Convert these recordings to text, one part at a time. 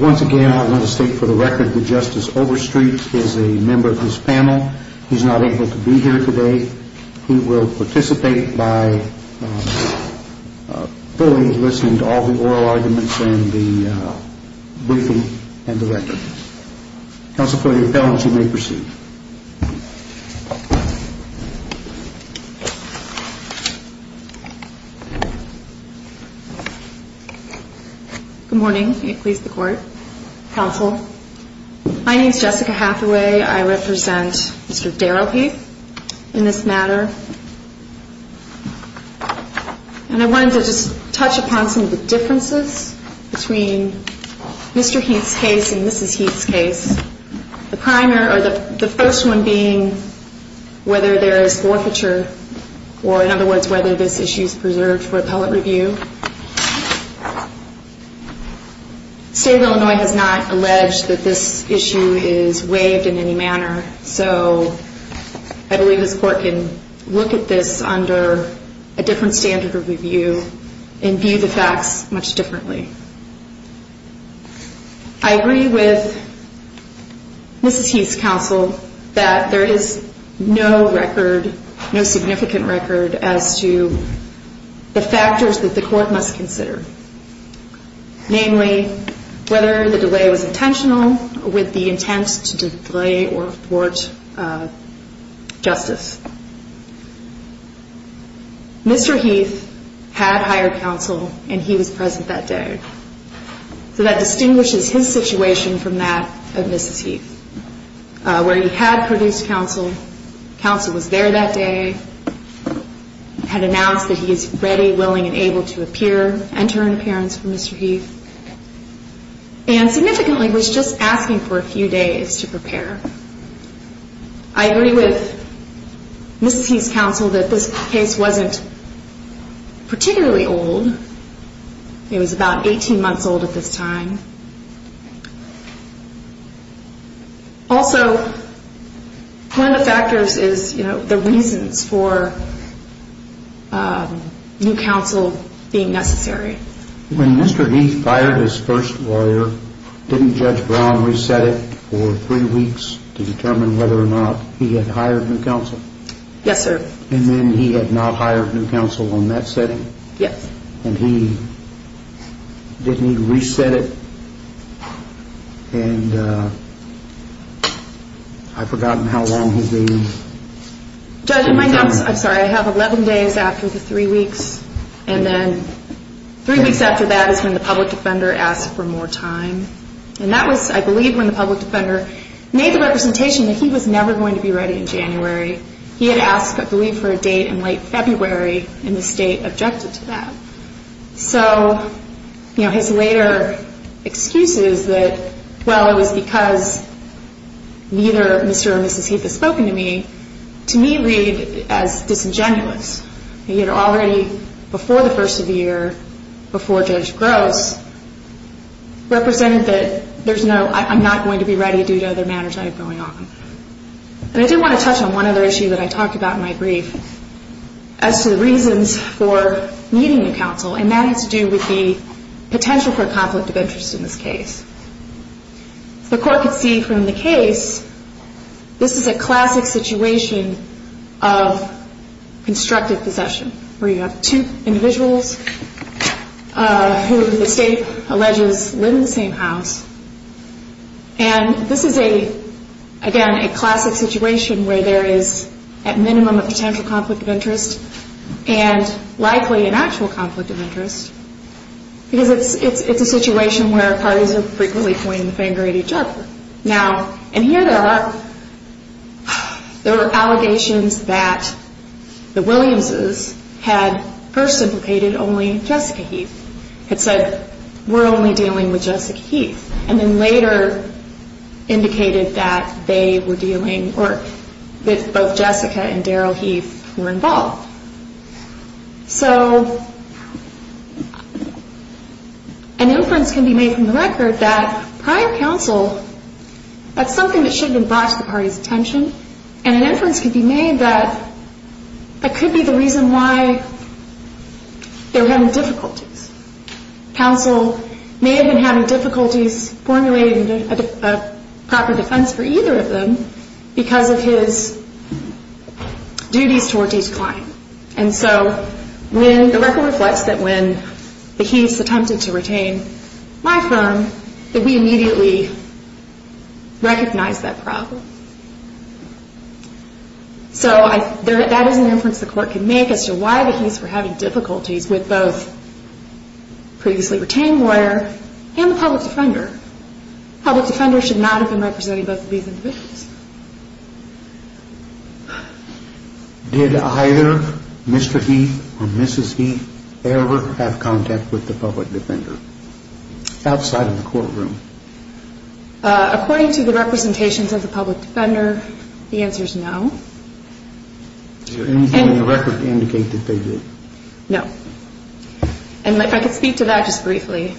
Once again, I want to state for the record that Justice Overstreet is a member of this panel. He is not able to be here today. He will participate by fully listening to all the oral arguments and the briefing and the record. Counsel for the appellants, you may proceed. Good morning. May it please the Court. Counsel, my name is Jessica Hathaway. I represent Mr. Heath's case and Mrs. Heath's case. The first one being whether there is forfeiture, or in other words, whether this issue is preserved for appellate review. State of Illinois has not alleged that this issue is waived in any manner, so I believe this Court can look at this under a different light. I agree with Mrs. Heath's counsel that there is no record, no significant record, as to the factors that the Court must consider. Namely, whether the delay was intentional with the appellant that day. So that distinguishes his situation from that of Mrs. Heath, where he had produced counsel, counsel was there that day, had announced that he is ready, willing, and able to appear, enter an appearance for Mr. Heath, and significantly was just asking for a few days to appear. He was about 18 months old at this time. Also, one of the factors is, you know, the reasons for new counsel being necessary. When Mr. Heath fired his first lawyer, didn't Judge Brown reset it for 3 weeks to determine whether or not he had hired new counsel? Yes, sir. And then he had not hired new counsel in that setting? Yes. And he didn't need to reset it? And I've forgotten how long his delay was. Judge, in my notes, I'm sorry, I have 11 days after the 3 weeks, and then 3 weeks after that is when the public defender asked for more time. And that was, I believe, when the public defender made the representation that he was never going to be ready in January. He had asked, I believe, for a date in late February, and the state objected to that. So, you know, his later excuses that, well, it was because neither Mr. or Mrs. Heath had spoken to me, to me read as disingenuous. He had already, before the first of the year, before Judge Gross, represented that there's no, I'm not going to be going on. And I did want to touch on one other issue that I talked about in my brief, as to the reasons for needing new counsel, and that has to do with the potential for a conflict of interest in this case. The court could see from the case, this is a classic situation of constructive possession, where you have two individuals who the state alleges live in the same house. And this is a, again, a classic situation where there is, at minimum, a potential conflict of interest, and likely an actual conflict of interest, because it's a situation where parties are frequently pointing the finger at each other. Now, and here there are, there are allegations that the Williamses had first implicated only Jessica Heath, had said, we're only dealing with Jessica Heath, and then later indicated that they were dealing, or that both Jessica and Daryl Heath were involved. So, an inference can be made from the record that prior counsel, that's something that should have been brought to the party's attention, and an inference can be made that that could be the reason why they're having difficulties. Counsel may have been having difficulties formulating a proper defense for either of them, because of his duties toward each client. And so, when, the record reflects that when the Heath's attempted to retain my firm, that we immediately recognized that problem. So, I, there, that is an inference the court can make as to why the Heath's were having difficulties with both previously retained lawyer and the public defender. Public defender should not have been representing both of these individuals. Did either Mr. Heath or Mrs. Heath ever have contact with the public defender, outside of the courtroom? According to the representations of the public defender, the answer is no. Did anything in the record indicate that they did? No. And if I could speak to that just briefly.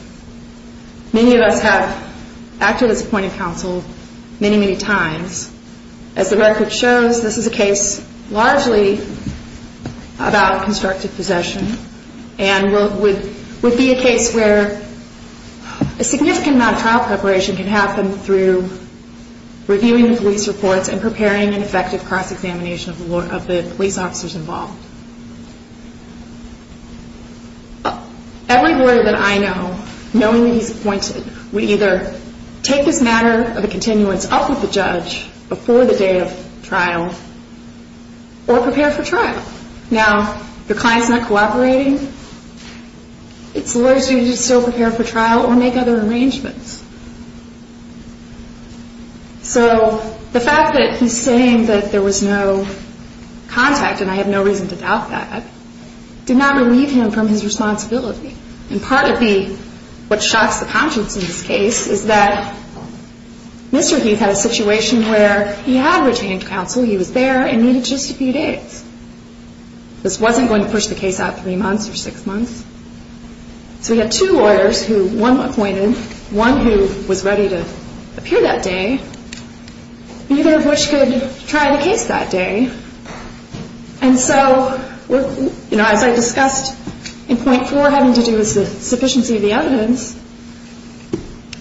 Many of us have acted as appointing counsel many, many times. As the record shows, this is a and would be a case where a significant amount of trial preparation can happen through reviewing the police reports and preparing an effective cross-examination of the police officers involved. Every lawyer that I know, knowing that he's appointed, would either take this matter of a If your client's not cooperating, it's lawyers who just don't prepare for trial or make other arrangements. So, the fact that he's saying that there was no contact, and I have no reason to doubt that, did not relieve him from his responsibility. And part of the, what shocks the conscience in this case, is that Mr. Heath had a situation where he had retained counsel, he was there, and needed just a few days. This wasn't going to push the case out three months or six months. So he had two lawyers who, one appointed, one who was ready to appear that day, neither of which could try the case that day. And so, you know, as I discussed in point four having to do with the sufficiency of the evidence,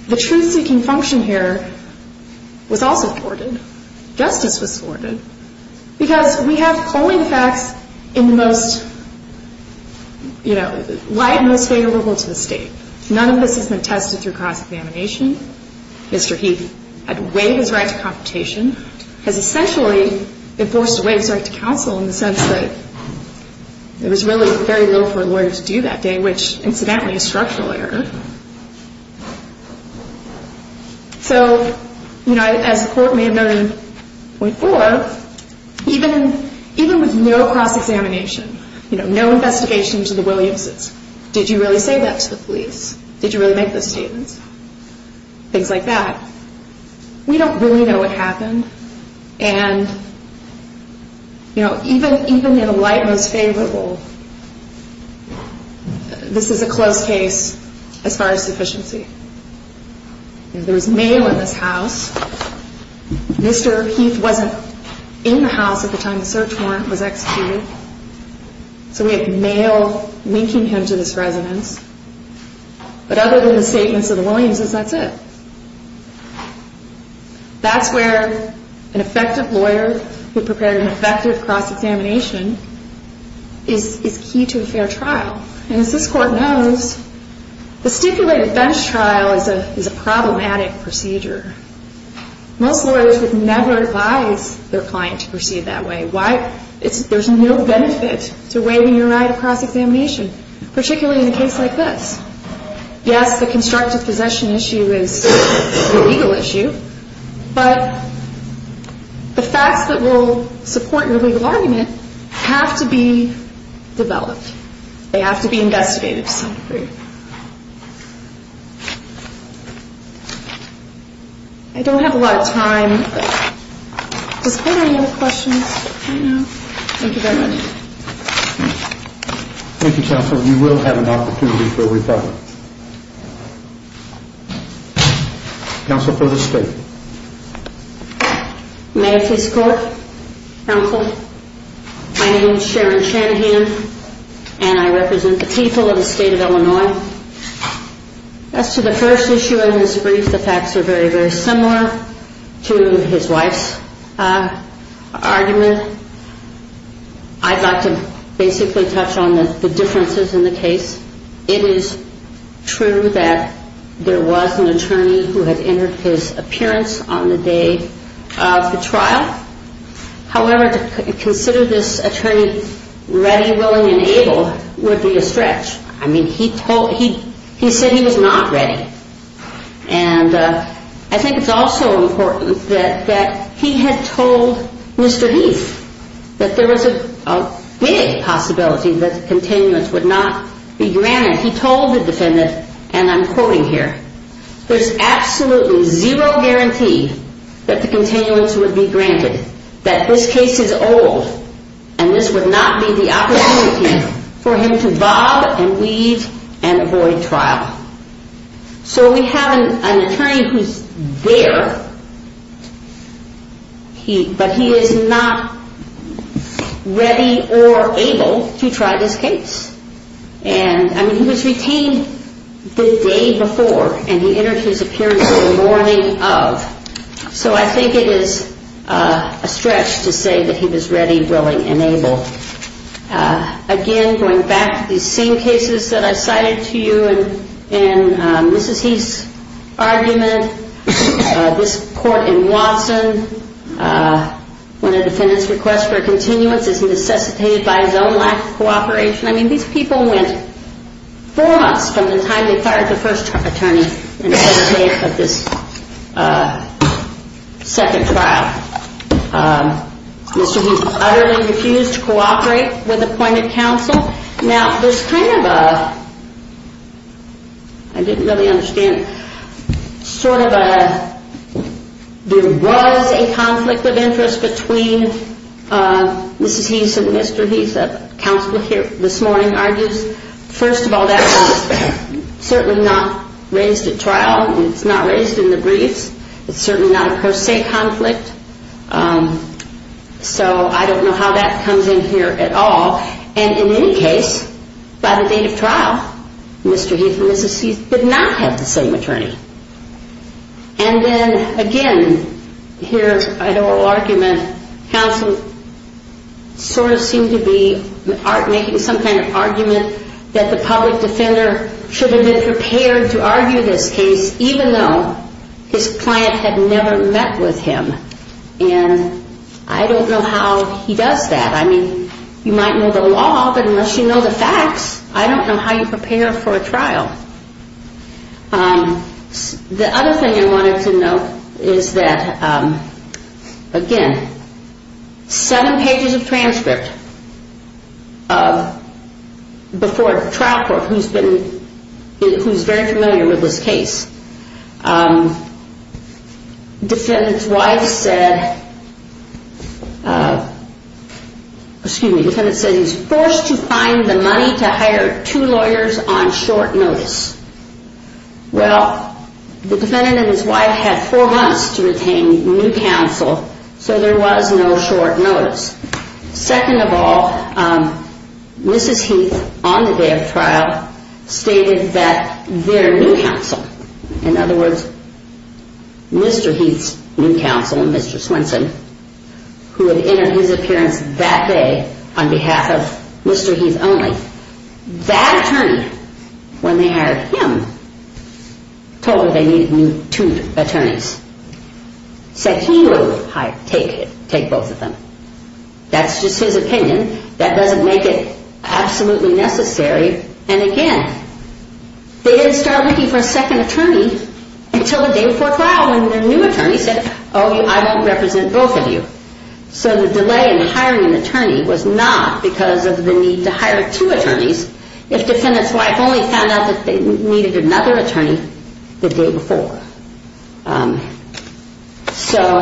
the truth-seeking function here was also thwarted. Justice was thwarted. Because we have only the facts in the most, you know, wide and most favorable to the state. None of this has been tested through cross-examination. Mr. Heath had waived his right to computation, has essentially enforced a waived right to counsel in the sense that there was really very little for a lawyer to do that day, which, incidentally, is structural error. So, you know, as the court may have noted in point four, even with no cross-examination, you know, no investigation to the Williamses, did you really say that to the police? Did you really make those statements? Things like that. We don't really know what happened. And, you know, even in the light most favorable, this is a closed case as far as sufficiency. There was mail in this house. Mr. Heath wasn't in the house at the time the search warrant was executed. So we had mail linking him to this residence. But other than the statements of the Williamses, that's it. That's where an effective lawyer who prepared an effective cross-examination is key to a fair trial. And as this Court knows, the stipulated bench trial is a problematic procedure. Most lawyers would never advise their client to proceed that way. Why? There's no benefit to waiving your right to cross-examination, particularly in a case like this. Yes, the constructive possession issue is a legal issue, but the facts that will support your legal argument have to be developed. They have to be investigated to some degree. I don't have a lot of time, but does anyone have questions right now? Thank you very much. Thank you, Counsel. You will have an opportunity for rebuttal. Counsel for the State. May I please call the Counsel? My name is Sharon Shanahan, and I represent the people of the State of Illinois. As to the first issue in his brief, the facts are very, very similar to his wife's argument. I'd like to basically touch on the differences in the case. It is true that there was an attorney who had entered his appearance on the day of the trial. However, to consider this attorney ready, willing, and able would be a stretch. I mean, he said he was not ready. And I think it's also important that he had told Mr. Heath that there was a big possibility that the continuance would not be granted. He told the defendant, and I'm quoting here, there's absolutely zero guarantee that the continuance would be granted, that this case is old, and this would not be the opportunity for him to bob and weave and avoid trial. So we have an attorney who's there, but he is not ready or able to try this case. I mean, he was retained the day before, and he entered his appearance the morning of. So I think it is a stretch to say that he was ready, willing, and able. Again, going back to these same cases that I cited to you in Mrs. Heath's argument, this court in Watson, when a defendant's request for a continuance is necessitated by his own lack of cooperation. I mean, these people went four months from the time they fired the first attorney in the middle of this second trial. Mr. Heath utterly refused to cooperate with appointed counsel. Now, there's kind of a, I didn't really understand, sort of a, there was a conflict of interest between Mrs. Heath and Mr. Heath. Counsel here this morning argues, first of all, that was certainly not raised at trial. It's not raised in the briefs. It's certainly not a per se conflict. So I don't know how that comes in here at all. And in any case, by the date of trial, Mr. Heath and Mrs. Heath did not have the same attorney. And then, again, here's an oral argument. Counsel sort of seemed to be making some kind of argument that the public defender should have been prepared to argue this case, even though his client had never met with him. And I don't know how he does that. I mean, you might know the law, but unless you know the facts, I don't know how you prepare for a trial. The other thing I wanted to note is that, again, seven pages of transcript before trial court, who's been, who's very familiar with this case. Defendant's wife said, excuse me, defendant said he was forced to find the money to hire two lawyers on short notice. Well, the defendant and his wife had four months to retain new counsel, so there was no short notice. Second of all, Mrs. Heath, on the day of trial, stated that their new counsel, in other words, Mr. Heath's new counsel, Mr. Swenson, who had entered his appearance that day on behalf of Mr. Heath only, that attorney, when they hired him, told her they needed new two attorneys. Said he would take both of them. That's just his opinion. That doesn't make it absolutely necessary. And again, they didn't start looking for a second attorney until the day before trial when their new attorney said, oh, I won't represent both of you. So the delay in hiring an attorney was not because of the need to hire two attorneys, if defendant's wife only found out that they needed another attorney the day before. So,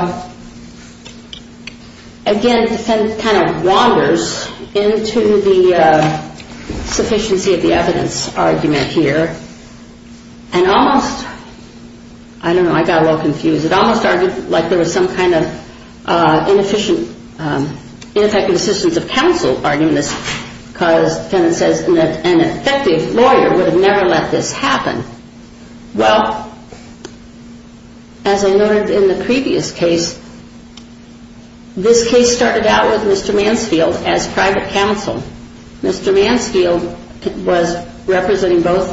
again, the defendant kind of wanders into the sufficiency of the evidence argument here, and almost, I don't know, I got a little confused. It almost argued like there was some kind of inefficient, ineffective assistance of counsel argument, because the defendant says an effective lawyer would have never let this happen. Well, as I noted in the previous case, this case started out with Mr. Mansfield as private counsel. Mr. Mansfield was representing both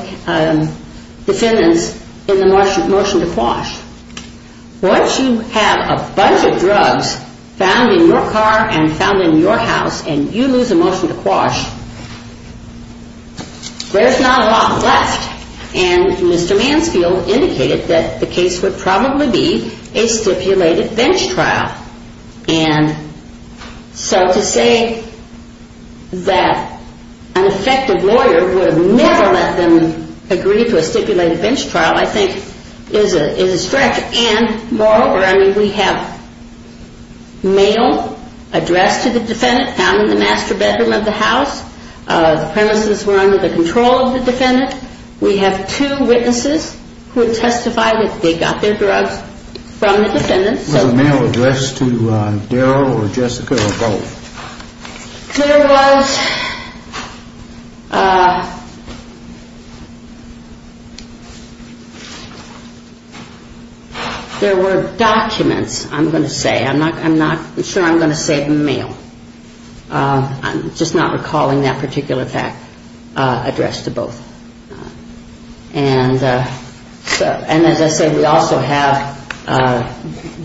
defendants in the motion to quash. Once you have a bunch of drugs found in your car and found in your house and you lose a motion to quash, there's not a lot left. And Mr. Mansfield indicated that the case would probably be a stipulated bench trial. And so to say that an effective lawyer would have never let them agree to a stipulated bench trial, I think, is a stretch. And, moreover, I mean, we have mail addressed to the defendant found in the master bedroom of the house. The premises were under the control of the defendant. We have two witnesses who testified that they got their drugs from the defendant. Was the mail addressed to Daryl or Jessica or both? There was. There were documents, I'm going to say. I'm not sure I'm going to say mail. I'm just not recalling that particular fact addressed to both. And as I say, we also have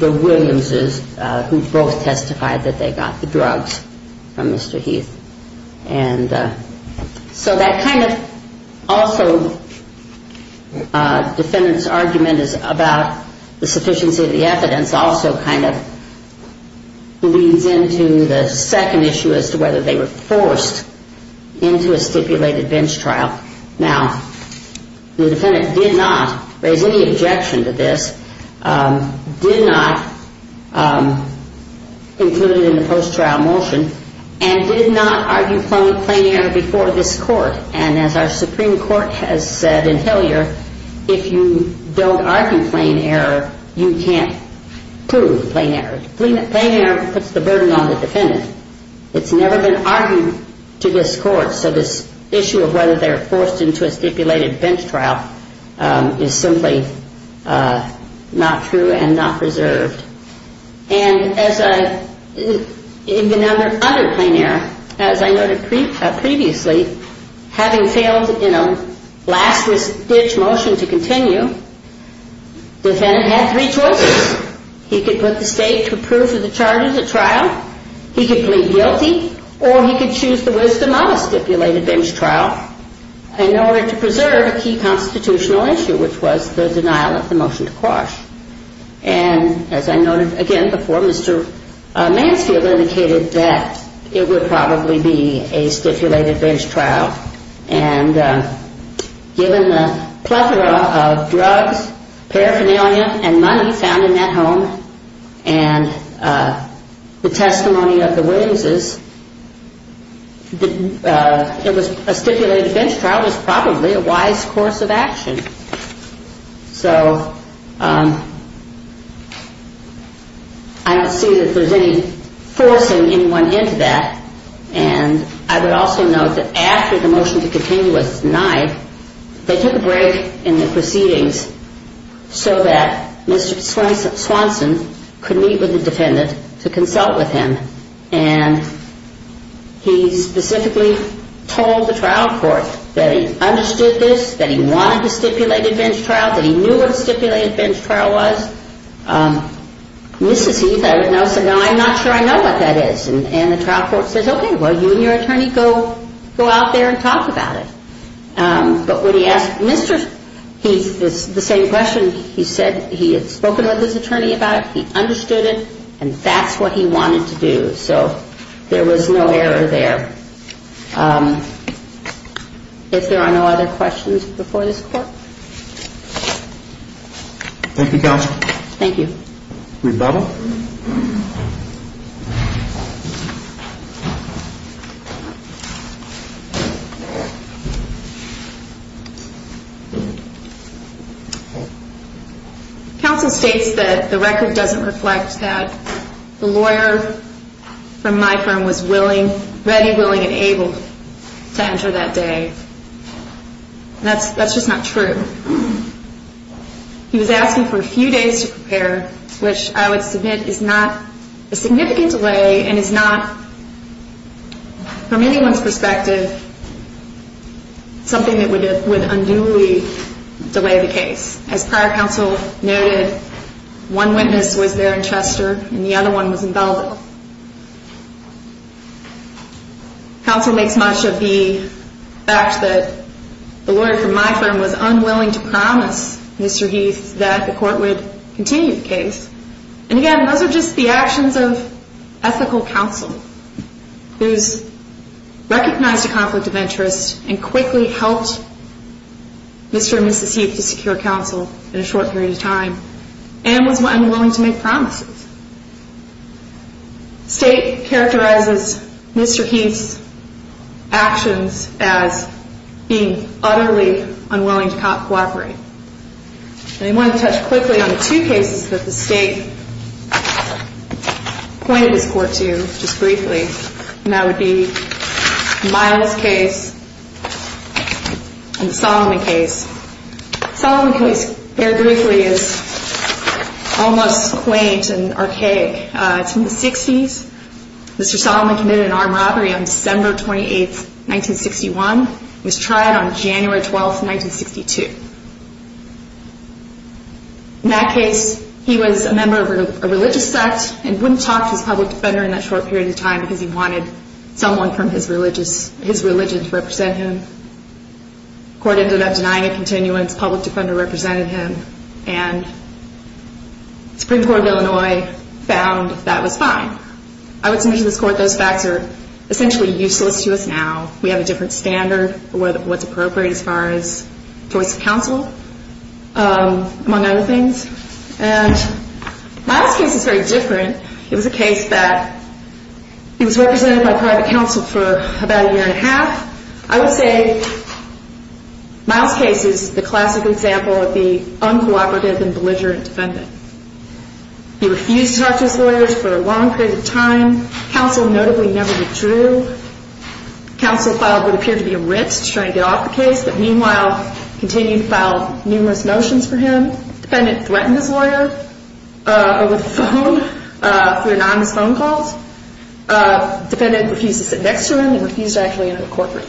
the Williams' who both testified that they got the drugs from Mr. Heath. And so that kind of also defendant's argument is about the sufficiency of the evidence also kind of leads into the second issue as to whether they were forced into a stipulated bench trial. Now, the defendant did not raise any objection to this, did not include it in the post-trial motion, and did not argue plain error before this court. And as our Supreme Court has said in Hilliard, if you don't argue plain error, you can't prove plain error. Plain error puts the burden on the defendant. It's never been argued to this court. So this issue of whether they were forced into a stipulated bench trial is simply not true and not preserved. And in the other plain error, as I noted previously, having failed in a last-ditch motion to continue, defendant had three choices. He could put the state to approve of the charges at trial, he could plead guilty, or he could choose the wisdom of a stipulated bench trial in order to preserve a key constitutional issue, which was the denial of the motion to quash. And as I noted again before, Mr. Mansfield indicated that it would probably be a stipulated bench trial. And given the plethora of drugs, paraphernalia, and money found in that home, and the testimony of the witnesses, a stipulated bench trial was probably a wise course of action. So I don't see that there's any forcing anyone into that. And I would also note that after the motion to continue was denied, they took a break in the proceedings so that Mr. Swanson could meet with the defendant to consult with him. And he specifically told the trial court that he understood this, that he wanted a stipulated bench trial, that he knew what a stipulated bench trial was. Mrs. Heath, I would note, said, no, I'm not sure I know what that is. And the trial court says, okay, well, you and your attorney go out there and talk about it. But when he asked Mr. Heath the same question, he said he had spoken with his attorney about it, he understood it, and that's what he wanted to do. So there was no error there. If there are no other questions before this Court? Thank you, Counsel. Thank you. Rebuttal? Counsel states that the record doesn't reflect that the lawyer from my firm was ready, willing, and able to enter that day. That's just not true. He was asking for a few days to prepare, which I would submit is not a significant delay and is not, from anyone's perspective, something that would unduly delay the case. As prior counsel noted, one witness was there in Chester and the other one was in Belleville. Counsel makes much of the fact that the lawyer from my firm was unwilling to promise Mr. Heath that the court would continue the case. And, again, those are just the actions of ethical counsel who's recognized a conflict of interest and quickly helped Mr. and Mrs. Heath to secure counsel in a short period of time and was unwilling to make promises. State characterizes Mr. Heath's actions as being utterly unwilling to cooperate. And I want to touch quickly on the two cases that the State pointed this Court to just briefly, and that would be Miles' case and the Solomon case. The Solomon case, very briefly, is almost quaint and archaic. It's from the 60s. Mr. Solomon committed an armed robbery on December 28, 1961. He was tried on January 12, 1962. In that case, he was a member of a religious sect and wouldn't talk to his public defender in that short period of time because he wanted someone from his religion to represent him. The court ended up denying a continuance. The public defender represented him, and the Supreme Court of Illinois found that was fine. I would say to this Court, those facts are essentially useless to us now. We have a different standard for what's appropriate as far as choice of counsel, among other things. And Miles' case is very different. It was a case that was represented by private counsel for about a year and a half. I would say Miles' case is the classic example of the uncooperative and belligerent defendant. He refused to talk to his lawyers for a long period of time. Counsel notably never withdrew. Counsel filed what appeared to be a writ to try and get off the case, but meanwhile continued to file numerous motions for him. Defendant threatened his lawyer over the phone through anonymous phone calls. Defendant refused to sit next to him and refused to actually enter the courtroom.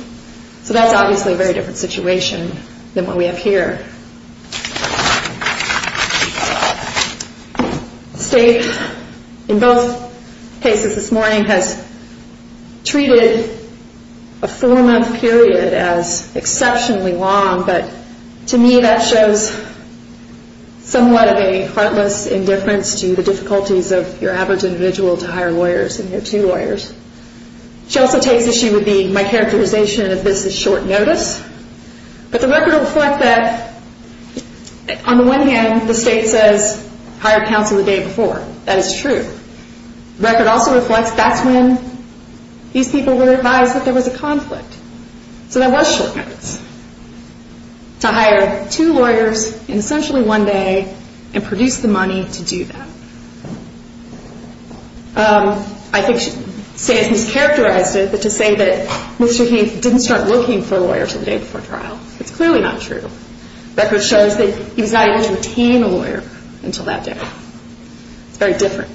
So that's obviously a very different situation than what we have here. State, in both cases this morning, has treated a four-month period as exceptionally long, but to me that shows somewhat of a heartless indifference to the difficulties of your average individual to hire lawyers and their two lawyers. She also takes issue with my characterization of this as short notice, but the record will reflect that on the one hand the State says hire counsel the day before. That is true. The record also reflects that's when these people were advised that there was a conflict. So that was short notice, to hire two lawyers in essentially one day and produce the money to do that. I think State has characterized it to say that Mr. Heath didn't start looking for lawyers the day before trial. It's clearly not true. The record shows that he was not able to attain a lawyer until that day. It's very different.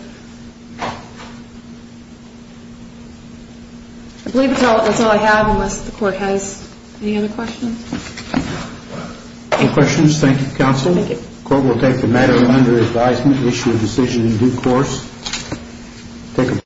I believe that's all I have unless the Court has any other questions. No questions. Thank you, Counsel. Thank you. The Court will take the matter under advisement, issue a decision in due course.